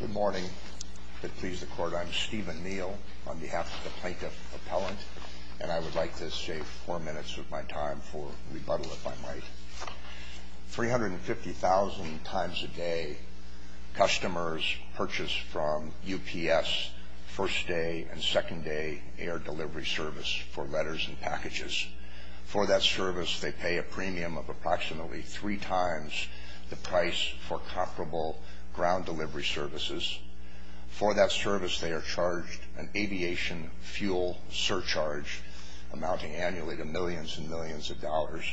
Good morning. I'm Stephen Neal on behalf of the Plaintiff Appellant, and I would like to save four minutes of my time for rebuttal, if I might. 350,000 times a day, customers purchase from UPS first-day and second-day air delivery service for letters and packages. For that service, they pay a premium of approximately three times the price for comparable ground delivery services. For that service, they are charged an aviation fuel surcharge amounting annually to millions and millions of dollars.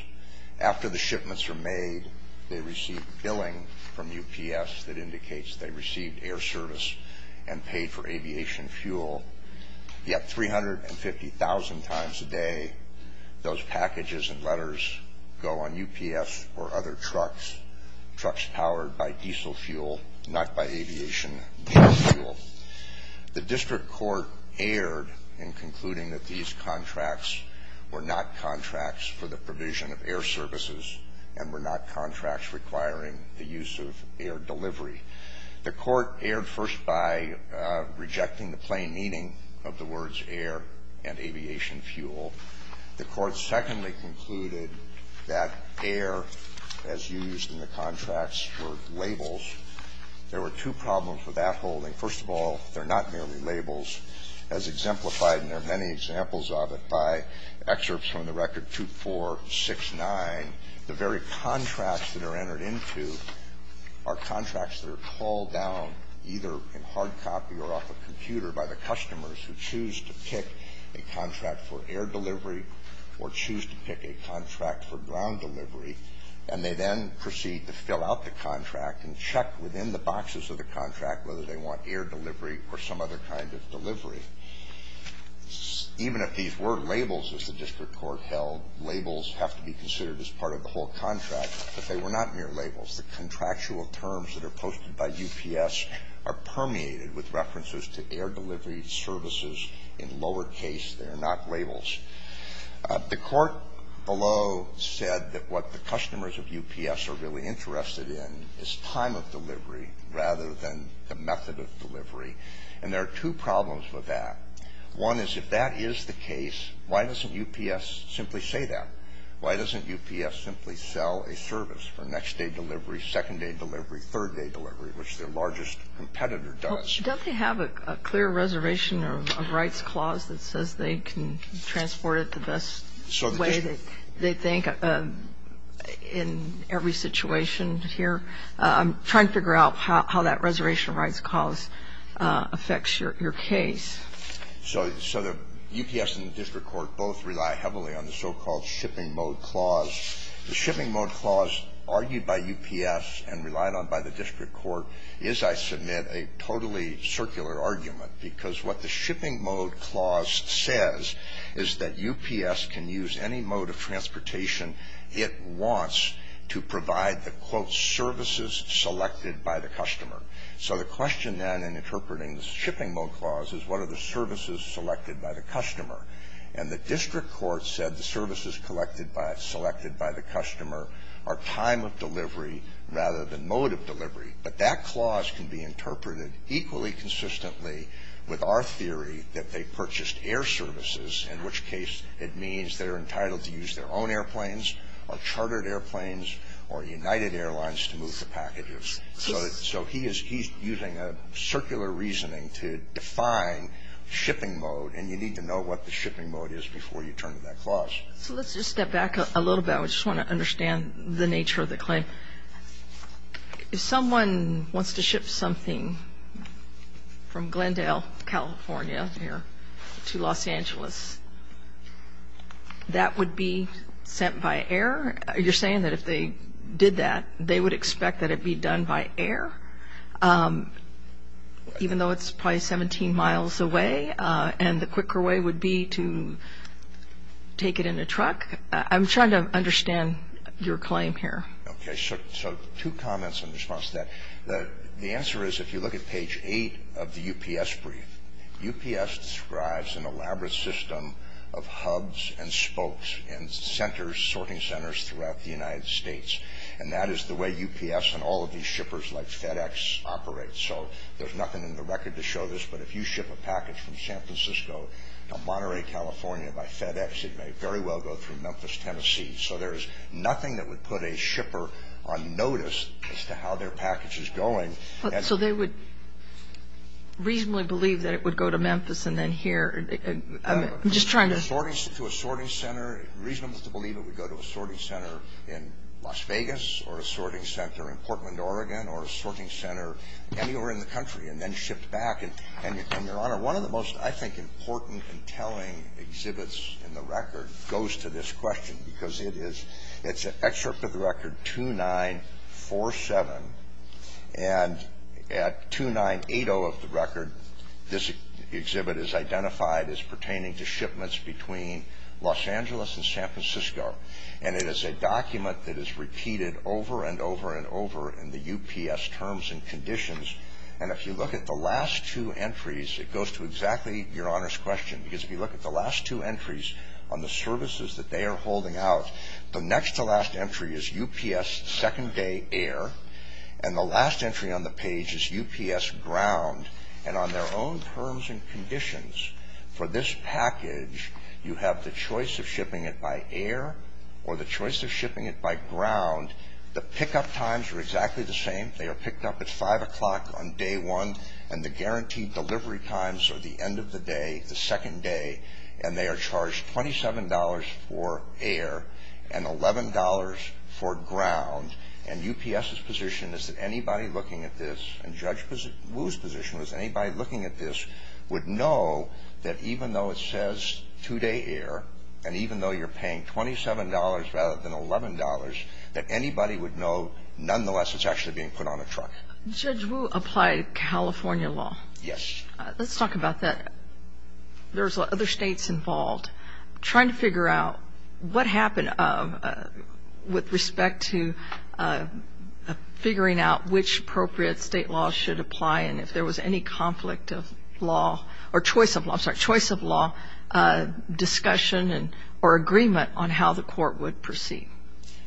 After the shipments are made, they receive billing from UPS that indicates they received air service and paid for aviation fuel. Yet 350,000 times a day, those packages and letters go on UPS or other trucks, trucks powered by diesel fuel, not by aviation fuel. The district court erred in concluding that these contracts were not contracts for the provision of air services and were not contracts requiring the use of air delivery. The court erred first by rejecting the plain meaning of the words air and aviation fuel. The court secondly concluded that air, as used in the contracts, were labels. There were two problems with that holding. First of all, they're not merely labels. As exemplified, and there are many examples of it, by excerpts from the record 2469, the very contracts that are entered into are contracts that are called down either in hard copy or off a computer by the customers who choose to pick a contract for air delivery or choose to pick a contract for ground delivery, and they then proceed to fill out the contract and check within the boxes of the contract whether they want air delivery or some other kind of delivery. Even if these were labels, as the district court held, labels have to be considered as part of the whole contract, but they were not mere labels. The contractual terms that are posted by UPS are permeated with references to air delivery services in lower case. They are not labels. The court below said that what the customers of UPS are really interested in is time of delivery rather than the method of delivery, and there are two problems with that. One is if that is the case, why doesn't UPS simply say that? Why doesn't UPS simply sell a service for next-day delivery, second-day delivery, third-day delivery, which their largest competitor does? Don't they have a clear reservation or a rights clause that says they can transport it the best way they think in every situation here? I'm trying to figure out how that reservation or rights clause affects your case. So the UPS and the district court both rely heavily on the so-called shipping mode clause. The shipping mode clause argued by UPS and relied on by the district court is, I submit, a totally circular argument because what the shipping mode clause says is that UPS can use any mode of transportation it wants to provide the, quote, services selected by the customer. So the question then in interpreting the shipping mode clause is what are the services selected by the customer? And the district court said the services selected by the customer are time of delivery rather than mode of delivery. But that clause can be interpreted equally consistently with our theory that they purchased air services, in which case it means they're entitled to use their own airplanes or chartered airplanes or United Airlines to move the packages. So he is using a circular reasoning to define shipping mode, and you need to know what the shipping mode is before you turn to that clause. So let's just step back a little bit. I just want to understand the nature of the claim. If someone wants to ship something from Glendale, California, here, to Los Angeles, that would be sent by air? You're saying that if they did that, they would expect that it be done by air, even though it's probably 17 miles away, and the quicker way would be to take it in a truck? I'm trying to understand your claim here. Okay, so two comments in response to that. The answer is if you look at page 8 of the UPS brief, UPS describes an elaborate system of hubs and spokes and centers, sorting centers, throughout the United States, and that is the way UPS and all of these shippers like FedEx operate. So there's nothing in the record to show this, but if you ship a package from San Francisco to Monterey, California, by FedEx, it may very well go through Memphis, Tennessee. So there's nothing that would put a shipper on notice as to how their package is going. So they would reasonably believe that it would go to Memphis and then here? I'm just trying to ---- To a sorting center, it's reasonable to believe it would go to a sorting center in Las Vegas or a sorting center in Portland, Oregon or a sorting center anywhere in the country and then shipped back. And, Your Honor, one of the most, I think, important and telling exhibits in the record goes to this question because it is an excerpt of the record 2947, and at 2980 of the record, this exhibit is identified as pertaining to shipments between Los Angeles and San Francisco. And it is a document that is repeated over and over and over in the UPS terms and conditions. And if you look at the last two entries, it goes to exactly Your Honor's question because if you look at the last two entries on the services that they are holding out, the next to last entry is UPS second day air, and the last entry on the page is UPS ground. And on their own terms and conditions for this package, you have the choice of shipping it by air or the choice of shipping it by ground. The pickup times are exactly the same. They are picked up at 5 o'clock on day one, and the guaranteed delivery times are the end of the day, the second day, and they are charged $27 for air and $11 for ground. And UPS's position is that anybody looking at this, and Judge Wu's position was anybody looking at this would know that even though it says two-day air, and even though you're paying $27 rather than $11, that anybody would know nonetheless it's actually being put on a truck. Judge Wu applied California law. Yes. Let's talk about that. There's other states involved. Trying to figure out what happened with respect to figuring out which appropriate state law should apply and if there was any conflict of law or choice of law, I'm sorry, choice of law discussion or agreement on how the court would proceed.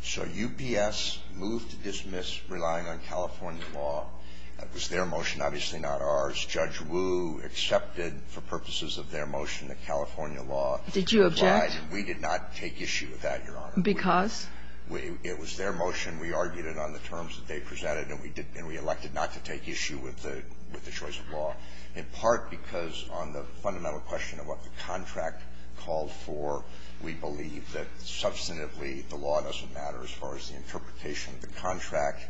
So UPS moved to dismiss relying on California law. It was their motion, obviously not ours. Judge Wu accepted for purposes of their motion the California law. Did you object? We did not take issue with that, Your Honor. Because? It was their motion. We argued it on the terms that they presented, and we elected not to take issue with the choice of law, in part because on the fundamental question of what the contract called for, we believe that substantively the law doesn't matter as far as the interpretation of the contract.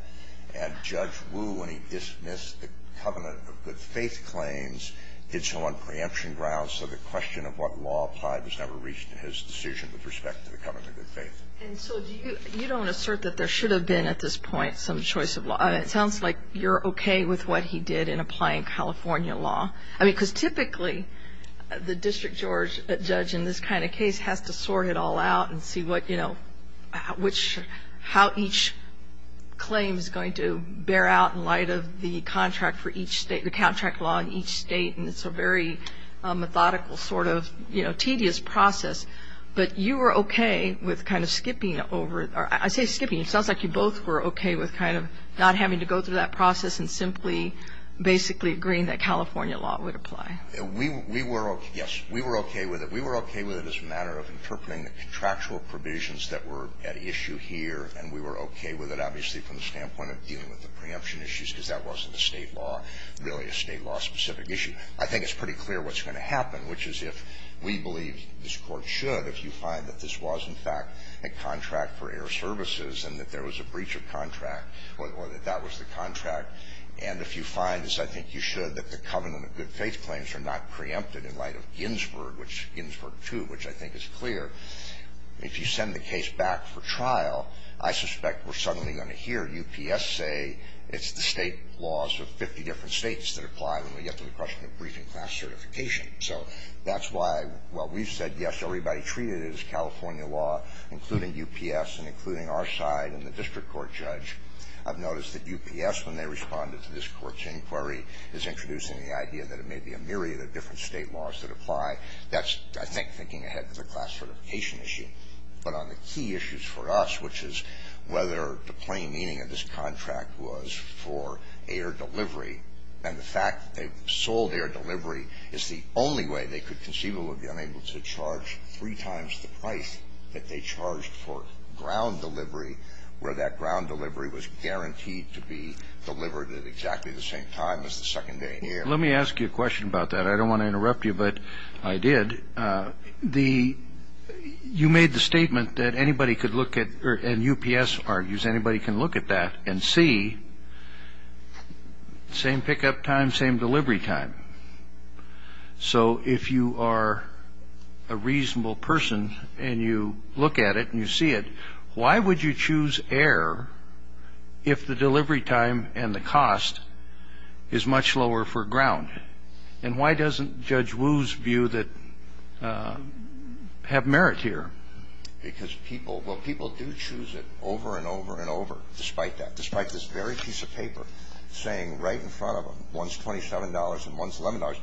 And Judge Wu, when he dismissed the covenant of good faith claims, did so on preemption grounds, so the question of what law applied was never reached in his decision with respect to the covenant of good faith. And so you don't assert that there should have been at this point some choice of law. It sounds like you're okay with what he did in applying California law. I mean, because typically the district judge in this kind of case has to sort it all out and see what, you know, which, how each claim is going to bear out in light of the contract for each State, the contract law in each State, and it's a very methodical sort of, you know, tedious process. But you were okay with kind of skipping over it. I say skipping. It sounds like you both were okay with kind of not having to go through that process and simply basically agreeing that California law would apply. We were okay. Yes. We were okay with it. We were okay with it as a matter of interpreting the contractual provisions that were at issue here, and we were okay with it, obviously, from the standpoint of dealing with the preemption issues, because that wasn't a State law, really a State law-specific issue. I think it's pretty clear what's going to happen, which is if we believe this Court should, if you find that this was, in fact, a contract for air services and that there was a breach of contract, or that that was the contract, and if you find, as I think you should, that the covenant of good faith claims are not preempted in light of Ginsburg, which Ginsburg 2, which I think is clear, if you send the case back for trial, I suspect we're suddenly going to hear UPS say it's the State laws of 50 different States that apply when we get to the question of briefing class certification. So that's why, while we've said, yes, everybody treated it as California law, including UPS and including our side and the district court judge, I've noticed that UPS, when they responded to this Court's inquiry, is introducing the idea that there may be a myriad of different State laws that apply. That's, I think, thinking ahead to the class certification issue. But on the key issues for us, which is whether the plain meaning of this contract was for air delivery, and the fact that they've sold air delivery is the only way they could conceivably be unable to charge three times the price that they charged for ground delivery, where that ground delivery was guaranteed to be delivered at exactly the same time as the second day air. Let me ask you a question about that. I don't want to interrupt you, but I did. You made the statement that anybody could look at, and UPS argues anybody can look at that and see, same pickup time, same delivery time. So if you are a reasonable person and you look at it and you see it, why would you choose air if the delivery time and the cost is much lower for ground? And why doesn't Judge Wu's view have merit here? Because people do choose it over and over and over, despite that, despite this very piece of paper saying right in front of them, one's $27 and one's $11.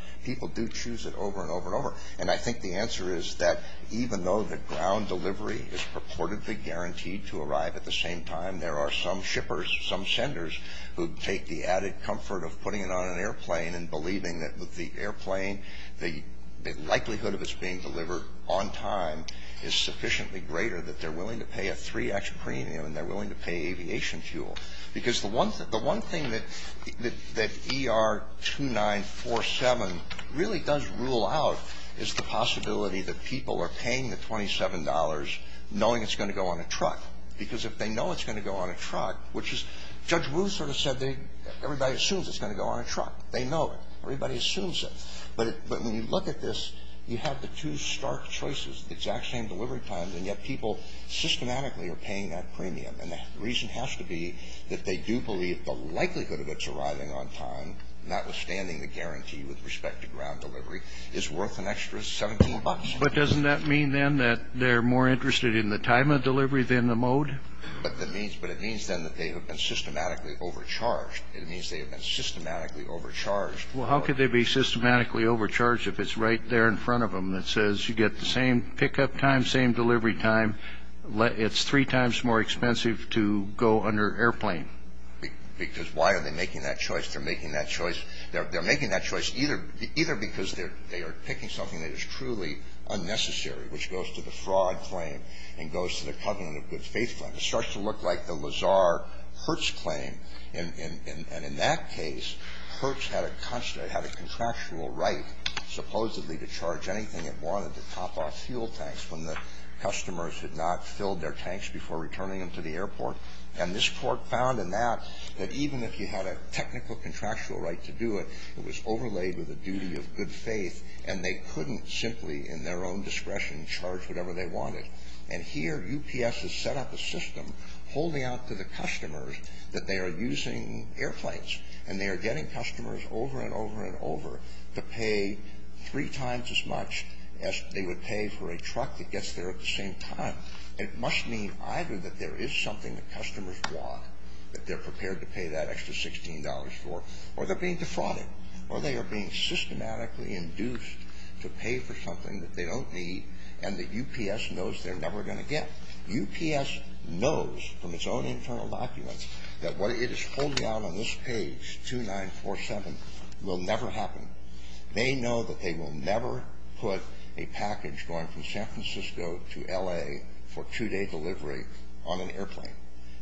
And I think the answer is that even though the ground delivery is purportedly guaranteed to arrive at the same time, there are some shippers, some senders, who take the added comfort of putting it on an airplane and believing that with the airplane, the likelihood of its being delivered on time is sufficiently greater that they're willing to pay a 3X premium and they're willing to pay aviation fuel. Because the one thing that ER-2947 really does rule out is the possibility that people are paying the $27 knowing it's going to go on a truck. Because if they know it's going to go on a truck, which is, Judge Wu sort of said everybody assumes it's going to go on a truck. They know it. Everybody assumes it. But when you look at this, you have the two stark choices, the exact same delivery times, and yet people systematically are paying that premium. And the reason has to be that they do believe the likelihood of its arriving on time, notwithstanding the guarantee with respect to ground delivery, is worth an extra $17. But doesn't that mean, then, that they're more interested in the time of delivery than the mode? But it means, then, that they have been systematically overcharged. It means they have been systematically overcharged. Well, how could they be systematically overcharged if it's right there in front of them that says you get the same pickup time, same delivery time. It's three times more expensive to go under airplane. Because why are they making that choice? They're making that choice. They're making that choice either because they are picking something that is truly unnecessary, which goes to the fraud claim and goes to the covenant of good faith claim. It starts to look like the Lazar-Hertz claim. And in that case, Hertz had a contractual right, supposedly, to charge anything that wanted to top off fuel tanks when the customers had not filled their tanks before returning them to the airport. And this court found in that that even if you had a technical contractual right to do it, it was overlaid with a duty of good faith. And they couldn't simply, in their own discretion, charge whatever they wanted. And here, UPS has set up a system holding out to the customers that they are using airplanes. And they are getting customers over and over and over to pay three times as much as they would pay for a truck that gets there at the same time. And it must mean either that there is something the customers want, that they're prepared to pay that extra $16 for, or they're being defrauded, or they are being systematically induced to pay for something that they don't need and that UPS knows they're never going to get. UPS knows from its own internal documents that what it is holding out on this page, 2947, will never happen. They know that they will never put a package going from San Francisco to L.A. for two-day delivery on an airplane.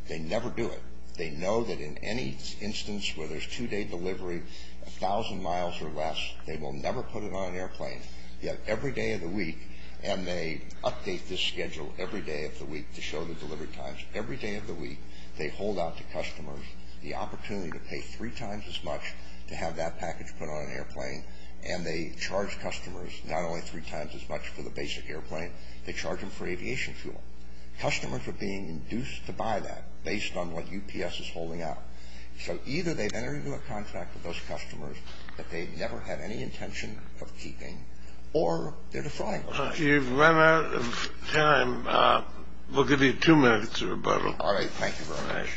They never do it. They know that in any instance where there's two-day delivery, a thousand miles or less, they will never put it on an airplane. Yet every day of the week, and they update this schedule every day of the week to show the delivery times. Every day of the week, they hold out to customers the opportunity to pay three times as much for the basic airplane. They charge them for aviation fuel. Customers are being induced to buy that based on what UPS is holding out. So either they've entered into a contract with those customers that they've never had any intention of keeping, or they're defrauding. You've run out of time. We'll give you two minutes of rebuttal. All right. Thank you very much.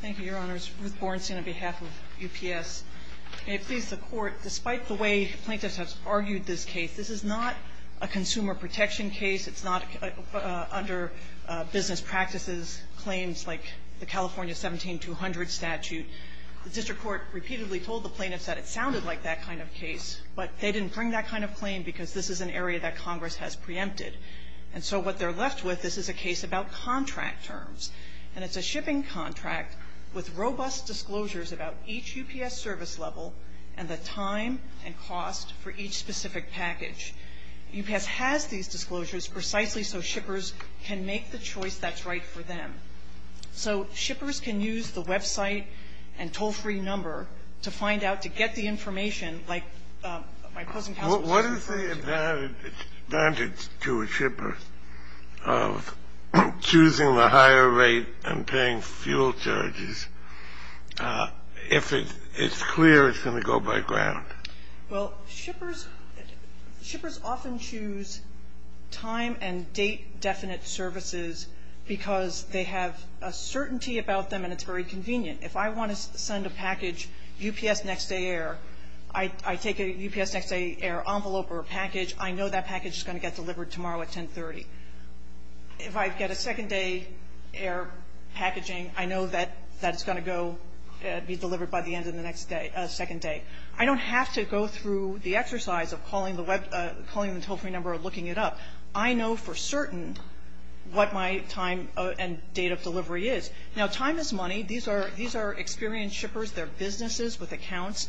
Thank you, Your Honors. Ruth Borenstein on behalf of UPS. May it please the Court, despite the way plaintiffs have argued this case, this is not a consumer protection case. It's not under business practices claims like the California 17-200 statute. The district court repeatedly told the plaintiffs that it sounded like that. But they didn't bring that kind of claim because this is an area that Congress has preempted. And so what they're left with is a case about contract terms. And it's a shipping contract with robust disclosures about each UPS service level and the time and cost for each specific package. UPS has these disclosures precisely so shippers can make the choice that's right for them. So shippers can use the website and toll-free number to find out, to get the information, like my opposing counsel just referred to. What is the advantage to a shipper of choosing the higher rate and paying fuel charges if it's clear it's going to go by ground? Well, shippers often choose time and date-definite services because they have a certainty about them and it's very convenient. If I want to send a package UPS next day air, I take a UPS next day air envelope or a package. I know that package is going to get delivered tomorrow at 1030. If I get a second day air packaging, I know that that's going to go be delivered by the end of the next day, second day. I don't have to go through the exercise of calling the toll-free number or looking it up. I know for certain what my time and date of delivery is. Now, time is money. These are experienced shippers. They're businesses with accounts.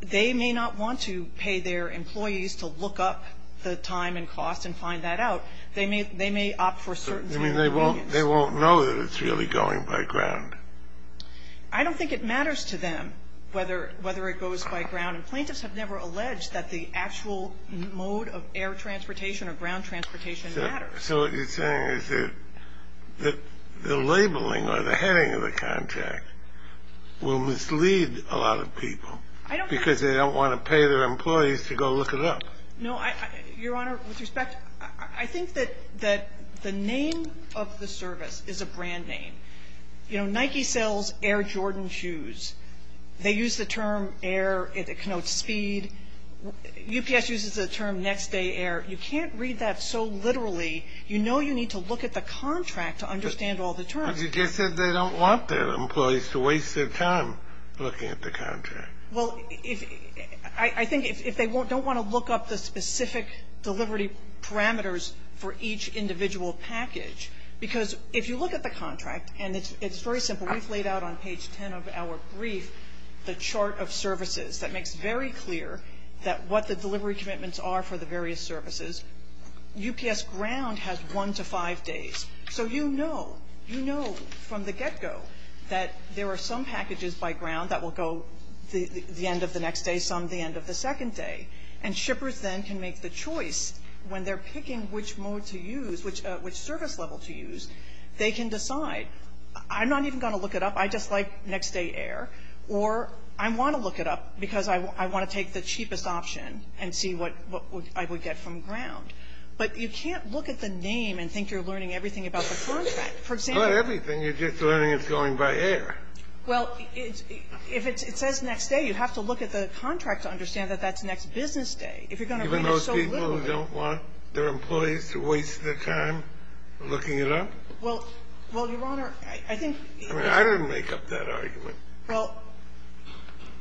They may not want to pay their employees to look up the time and cost and find that out. They may opt for certainty. I mean, they won't know that it's really going by ground. I don't think it matters to them whether it goes by ground. And plaintiffs have never alleged that the actual mode of air transportation or ground transportation matters. So what you're saying is that the labeling or the heading of the contract will mislead a lot of people because they don't want to pay their employees to go look it up. No. Your Honor, with respect, I think that the name of the service is a brand name. You know, Nike sells Air Jordan shoes. They use the term air. It connotes speed. UPS uses the term next day air. You can't read that so literally. You know you need to look at the contract to understand all the terms. But you just said they don't want their employees to waste their time looking at the contract. Well, I think if they don't want to look up the specific delivery parameters for each individual package, because if you look at the contract, and it's very simple, we've laid out on page 10 of our brief the chart of services that makes very clear that what the delivery commitments are for the various services. UPS ground has one to five days. So you know, you know from the get-go that there are some packages by ground that will go the end of the next day, some the end of the second day. And shippers then can make the choice when they're picking which mode to use, which service level to use. They can decide, I'm not even going to look it up. I just like next day air. Or I want to look it up because I want to take the cheapest option and see what I would get from ground. But you can't look at the name and think you're learning everything about the contract. For example you're just learning it's going by air. Well, if it says next day, you have to look at the contract to understand that that's next business day. Even those people who don't want their employees to waste their time looking it up? Well, Your Honor, I think. I didn't make up that argument. Well,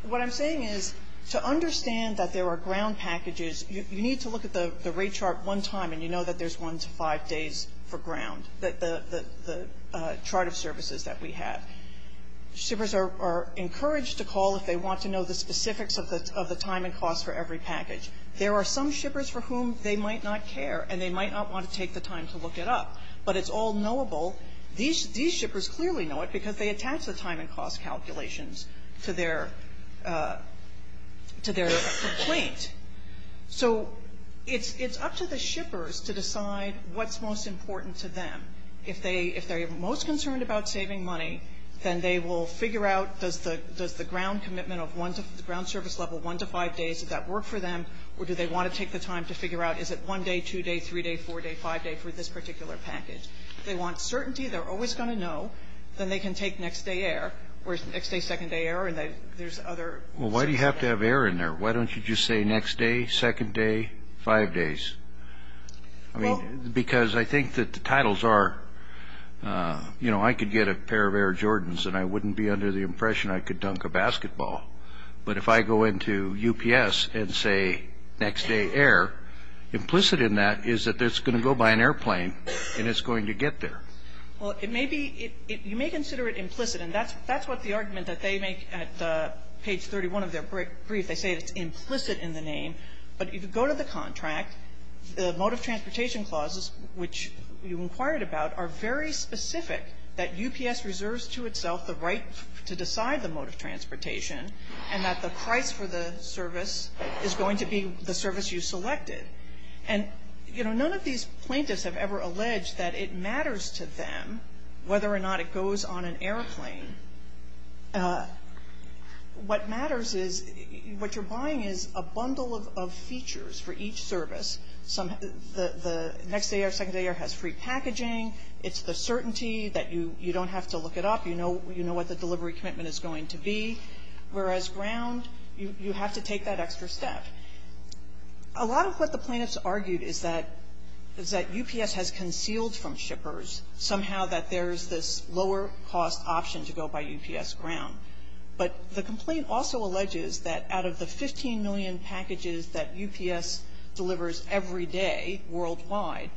what I'm saying is to understand that there are ground packages, you need to look at the rate chart one time and you know that there's one to five days for ground, the chart of services that we have. Shippers are encouraged to call if they want to know the specifics of the time and cost for every package. There are some shippers for whom they might not care and they might not want to take the time to look it up. But it's all knowable. These shippers clearly know it because they attach the time and cost calculations to their complaint. So it's up to the shippers to decide what's most important to them. If they're most concerned about saving money, then they will figure out does the ground commitment of the ground service level one to five days, does that work for them or do they want to take the time to figure out is it one day, two day, three day, four day, five day for this particular package. If they want certainty, they're always going to know, then they can take next day air or next day, second day air and there's other. Well, why do you have to have air in there? Why don't you just say next day, second day, five days? Because I think that the titles are, you know, I could get a pair of Air Jordans and I wouldn't be under the impression I could dunk a basketball. But if I go into UPS and say next day air, implicit in that is that it's going to go by an airplane and it's going to get there. Well, it may be you may consider it implicit. And that's what the argument that they make at page 31 of their brief. They say it's implicit in the name. But if you go to the contract, the mode of transportation clauses, which you inquired about, are very specific that UPS reserves to itself the right to decide the mode of transportation and that the price for the service is going to be the service you selected. And, you know, none of these plaintiffs have ever alleged that it matters to them whether or not it goes on an airplane. What matters is what you're buying is a bundle of features for each service. The next day air, second day air has free packaging. It's the certainty that you don't have to look it up. You know what the delivery commitment is going to be. Whereas ground, you have to take that extra step. A lot of what the plaintiffs argued is that UPS has concealed from shippers somehow that there's this lower cost option to go by UPS ground. But the complaint also alleges that out of the 15 million packages that UPS delivers every day worldwide,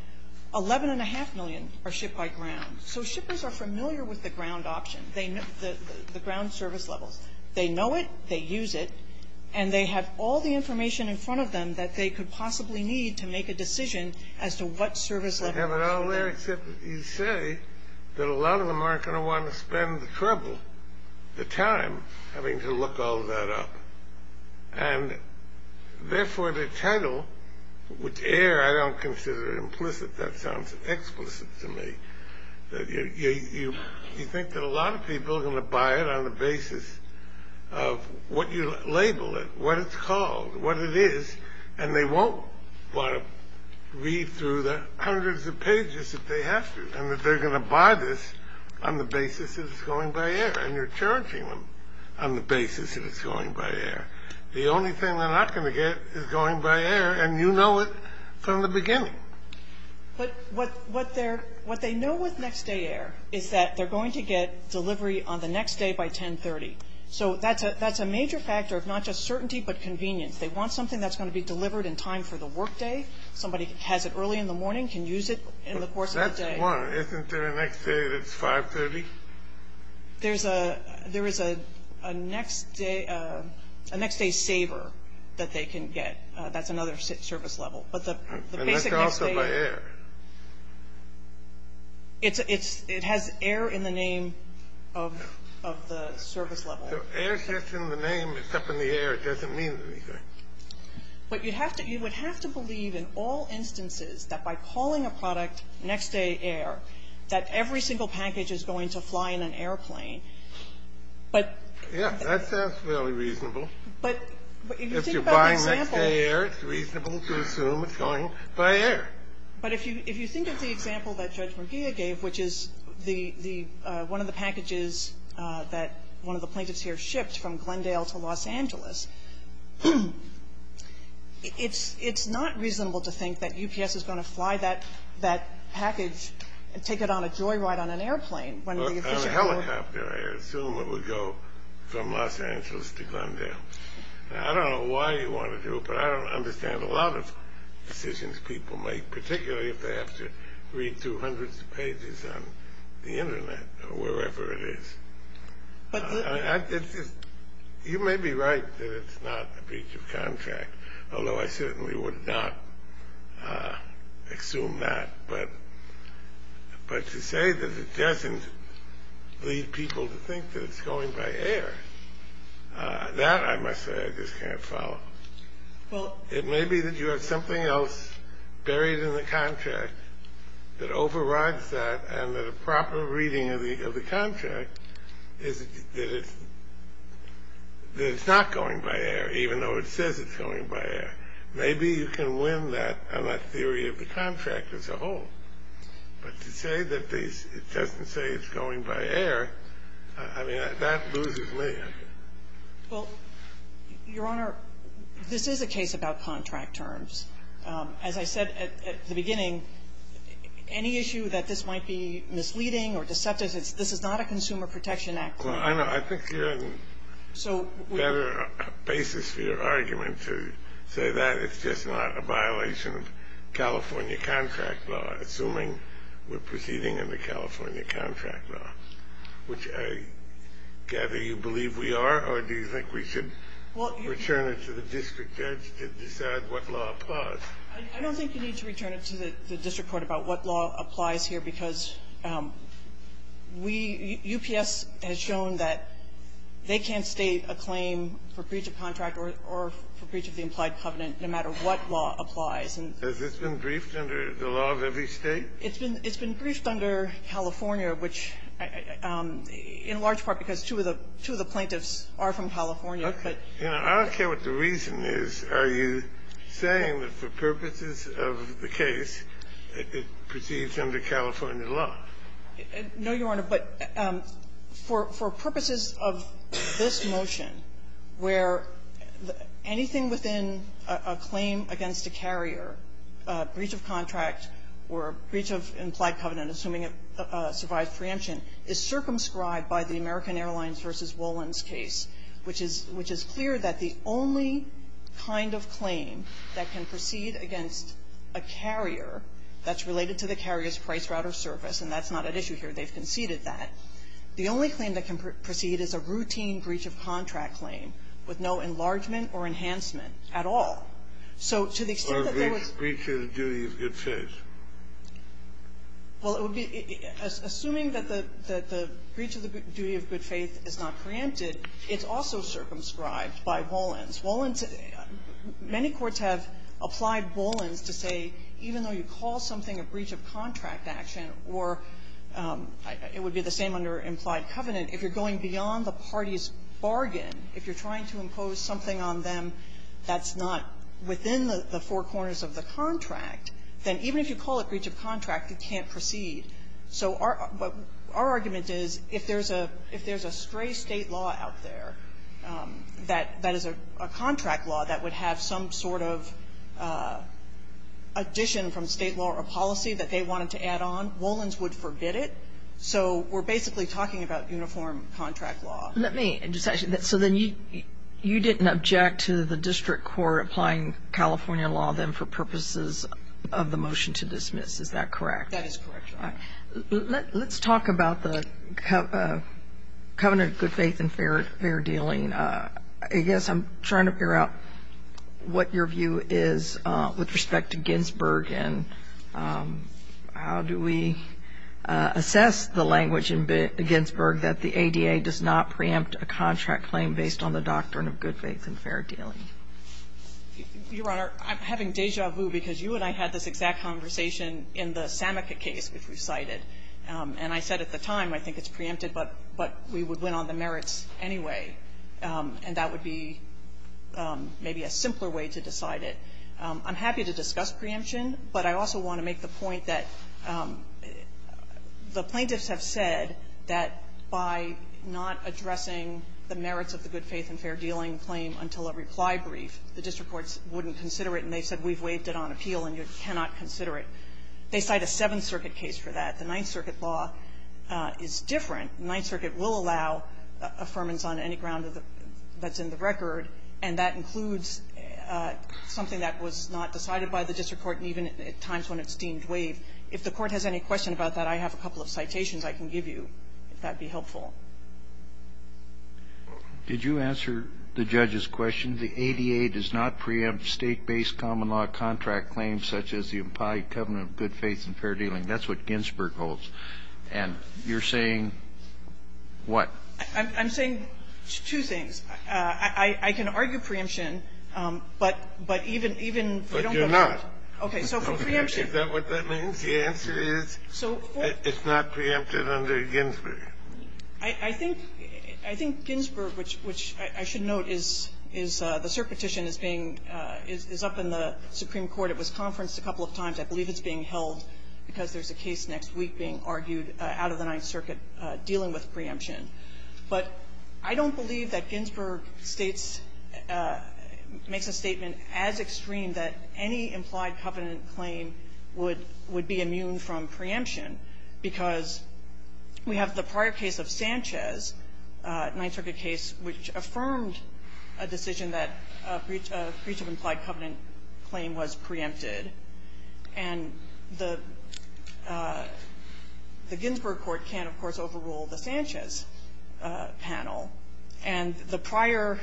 11.5 million are shipped by ground. So shippers are familiar with the ground option, the ground service levels. They know it. They use it. And they have all the information in front of them that they could possibly need to make a decision as to what service level. They have it all there except you say that a lot of them aren't going to want to spend the trouble, the time, having to look all that up. And, therefore, the title, which air I don't consider implicit, that sounds explicit to me. You think that a lot of people are going to buy it on the basis of what you label it, what it's called, what it is. And they won't want to read through the hundreds of pages that they have to and that they're going to buy this on the basis that it's going by air. And you're charging them on the basis that it's going by air. The only thing they're not going to get is going by air. And you know it from the beginning. But what they know with next day air is that they're going to get delivery on the next day by 1030. So that's a major factor of not just certainty but convenience. They want something that's going to be delivered in time for the workday. Somebody has it early in the morning, can use it in the course of the day. Isn't there a next day that's 530? There is a next day saver that they can get. That's another service level. And that's also by air. It has air in the name of the service level. Air's just in the name. It's up in the air. It doesn't mean anything. But you would have to believe in all instances that by calling a product next day air, that every single package is going to fly in an airplane. Yeah. That sounds fairly reasonable. If you're buying next day air, it's reasonable to assume it's going by air. But if you think of the example that Judge McGeo gave, which is the one of the packages that one of the plaintiffs here shipped from Glendale to Los Angeles, it's not reasonable to think that UPS is going to fly that package and take it on a joyride on an airplane. On a helicopter, I assume it would go from Los Angeles to Glendale. I don't know why you want to do it, but I don't understand a lot of decisions people make, particularly if they have to read through hundreds of pages on the Internet or wherever it is. You may be right that it's not a breach of contract, although I certainly would not assume that. But to say that it doesn't lead people to think that it's going by air, that I must say I just can't follow. Well, it may be that you have something else buried in the contract that overrides that and that a proper reading of the contract is that it's not going by air, even though it says it's going by air. Maybe you can win that on that theory of the contract as a whole. But to say that it doesn't say it's going by air, I mean, that loses me. Well, Your Honor, this is a case about contract terms. As I said at the beginning, any issue that this might be misleading or deceptive, this is not a Consumer Protection Act claim. I think you have a better basis for your argument to say that it's just not a violation of California contract law, assuming we're proceeding under California contract law, which I gather you believe we are, or do you think we should return it to the district judge to decide what law applies? I don't think you need to return it to the district court about what law applies here because we, UPS, has shown that they can't state a claim for breach of contract or for breach of the implied covenant, no matter what law applies. Has this been briefed under the law of every State? It's been briefed under California, which in large part because two of the plaintiffs are from California. I don't care what the reason is. Are you saying that for purposes of the case, it proceeds under California law? No, Your Honor, but for purposes of this motion where anything within a claim against a carrier, a breach of contract or a breach of implied covenant, assuming it survives preemption, is circumscribed by the American Airlines v. Wollin's case, which is clear that the only kind of claim that can proceed against a carrier that's related to the carrier's price route or service, and that's not at issue here, they've conceded that, the only claim that can proceed is a routine breach of contract claim with no enlargement or enhancement at all. So to the extent that there was Or a breach of the duty of good faith. Well, it would be assuming that the breach of the duty of good faith is not preempted, it's also circumscribed by Wollin's. Wollin's, many courts have applied Wollin's to say, even though you call something a breach of contract action or it would be the same under implied covenant, if you're going beyond the party's bargain, if you're trying to impose something on them that's not within the four corners of the contract, then even if you call a breach of contract, it can't proceed. So our argument is if there's a stray state law out there that is a contract law that would have some sort of addition from state law or policy that they wanted to add on, Wollin's would forbid it. So we're basically talking about uniform contract law. Let me just ask you, so then you didn't object to the district court applying California law then for purposes of the motion to dismiss, is that correct? That is correct, Your Honor. Let's talk about the covenant of good faith and fair dealing. I guess I'm trying to figure out what your view is with respect to Ginsburg and how do we assess the language in Ginsburg that the ADA does not preempt a contract claim based on the doctrine of good faith and fair dealing? Your Honor, I'm having deja vu because you and I had this exact conversation in the Samika case, which we cited. And I said at the time, I think it's preempted, but we would win on the merits anyway, and that would be maybe a simpler way to decide it. I'm happy to discuss preemption, but I also want to make the point that the plaintiffs have said that by not addressing the merits of the good faith and fair dealing claim until a reply brief, the district courts wouldn't consider it, and they said we've waived it on appeal and you cannot consider it. They cite a Seventh Circuit case for that. The Ninth Circuit law is different. The Ninth Circuit will allow affirmance on any ground that's in the record, and that includes something that was not decided by the district court, even at times when it's deemed waived. If the Court has any question about that, I have a couple of citations I can give you, if that would be helpful. Did you answer the judge's question? Kennedy, the ADA does not preempt state-based common law contract claims such as the implied covenant of good faith and fair dealing. That's what Ginsburg holds. And you're saying what? I'm saying two things. I can argue preemption, but even if you don't go to court But you're not. Okay. So for preemption Is that what that means? The answer is it's not preempted under Ginsburg. I think Ginsburg, which I should note, is the circuit petition is being up in the Supreme Court. It was conferenced a couple of times. I believe it's being held because there's a case next week being argued out of the Ninth Circuit dealing with preemption. But I don't believe that Ginsburg states, makes a statement as extreme that any implied covenant claim would be immune from preemption because we have the prior case of Sanchez, Ninth Circuit case, which affirmed a decision that breach of implied covenant claim was preempted. And the Ginsburg court can, of course, overrule the Sanchez panel. And the prior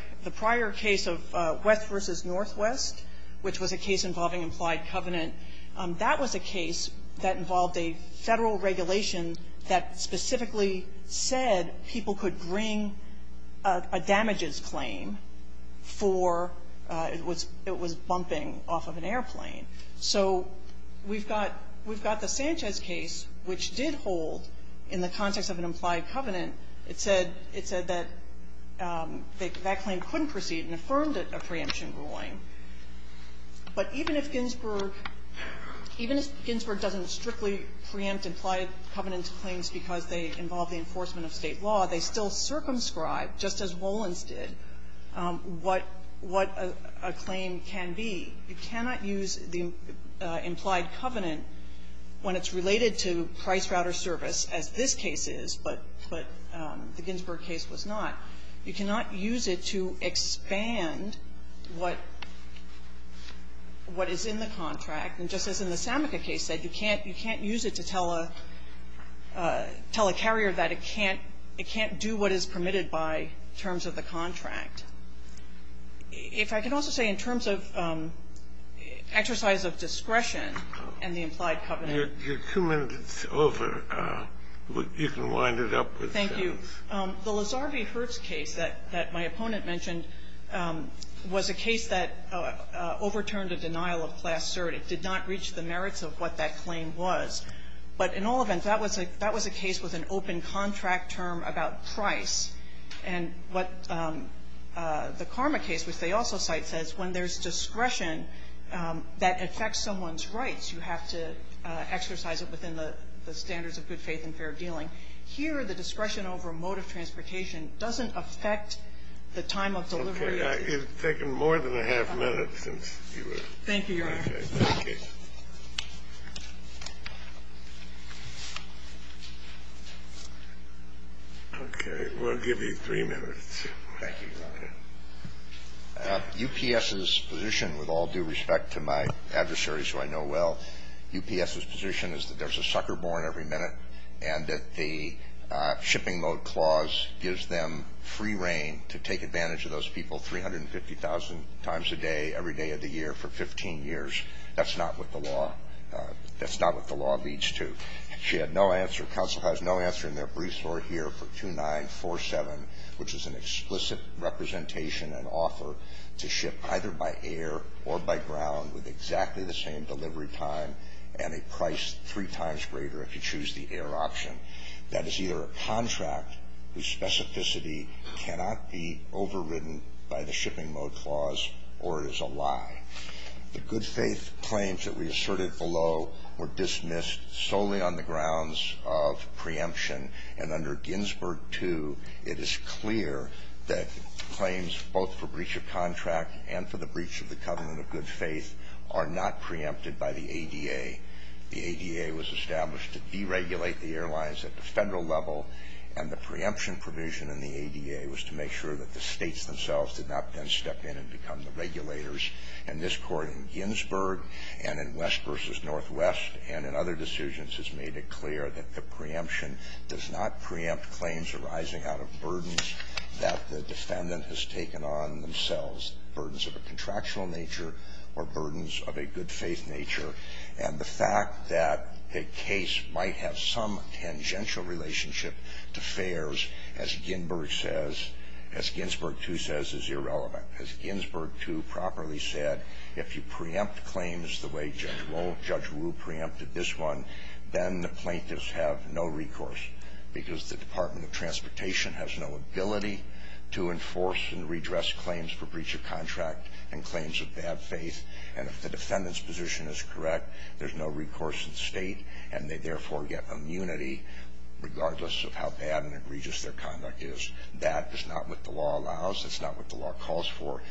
case of West v. Northwest, which was a case involving implied covenant, that was a case that involved a Federal regulation that specifically said people could bring a damages claim for it was bumping off of an airplane. So we've got the Sanchez case, which did hold in the context of an implied covenant. It said that that claim couldn't proceed and affirmed a preemption ruling. But even if Ginsburg, even if Ginsburg doesn't strictly preempt implied covenant claims because they involve the enforcement of State law, they still circumscribe, just as Wolins did, what a claim can be. You cannot use the implied covenant when it's related to price router service, as this case is, but the Ginsburg case was not. You cannot use it to expand what is in the contract. And just as in the Samica case said, you can't use it to tell a carrier that it can't do what is permitted by terms of the contract. If I could also say in terms of exercise of discretion and the implied covenant You're two minutes over. Thank you. The Lasarvi-Hertz case that my opponent mentioned was a case that overturned a denial of class cert. It did not reach the merits of what that claim was. But in all events, that was a case with an open contract term about price. And what the Karma case, which they also cite, says when there's discretion that affects someone's rights, you have to exercise it within the standards of good faith and fair dealing. Here, the discretion over mode of transportation doesn't affect the time of delivery. It's taken more than a half minute since you were. Thank you, Your Honor. Okay. Thank you. Okay. We'll give you three minutes. Thank you, Your Honor. UPS's position, with all due respect to my adversaries who I know well, UPS's position is that they're born every minute and that the shipping mode clause gives them free reign to take advantage of those people 350,000 times a day, every day of the year for 15 years. That's not what the law, that's not what the law leads to. She had no answer. Counsel has no answer in their briefs or here for 2947, which is an explicit representation and offer to ship either by air or by ground with exactly the same delivery time and a price three times greater if you choose the air option. That is either a contract whose specificity cannot be overridden by the shipping mode clause or it is a lie. The good faith claims that we asserted below were dismissed solely on the grounds of preemption. And under Ginsburg 2, it is clear that claims both for the ADA was established to deregulate the airlines at the federal level and the preemption provision in the ADA was to make sure that the states themselves did not then step in and become the regulators in this court in Ginsburg and in West versus Northwest and in other decisions has made it clear that the preemption does not preempt claims arising out of burdens that the defendant has taken on themselves, burdens of a contractual nature or the fact that a case might have some tangential relationship to fares, as Ginsburg says, as Ginsburg 2 says is irrelevant. As Ginsburg 2 properly said, if you preempt claims the way Judge Wu preempted this one, then the plaintiffs have no recourse because the Department of Transportation has no ability to enforce and redress claims for breach of contract and claims of bad faith. And if the defendant's position is correct, there's no recourse in the state and they therefore get immunity regardless of how bad and egregious their conduct is. That is not what the law allows. That's not what the law calls for.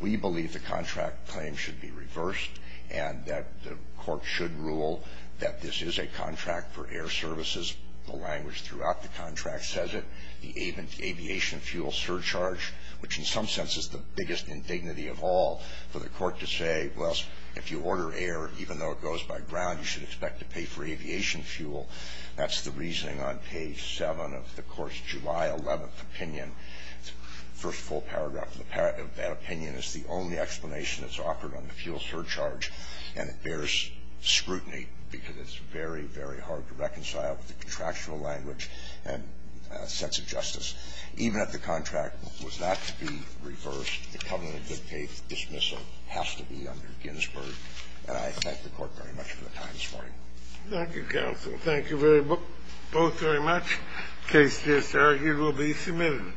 We believe the contract claim should be reversed and that the court should rule that this is a contract for air services, the language throughout the contract says it. The aviation fuel surcharge, which in some sense is the biggest indignity of all for the court to say, well, if you order air, even though it goes by ground, you should expect to pay for aviation fuel. That's the reasoning on page 7 of the court's July 11th opinion, first full paragraph. That opinion is the only explanation that's offered on the fuel surcharge, and it bears scrutiny because it's very, very hard to reconcile with the contractual language and sense of justice. Even if the contract was not to be reversed, the covenant of faith dismissal has to be under Ginsburg. And I thank the court very much for the time this morning. Thank you, counsel. Thank you both very much. Case just argued will be submitted.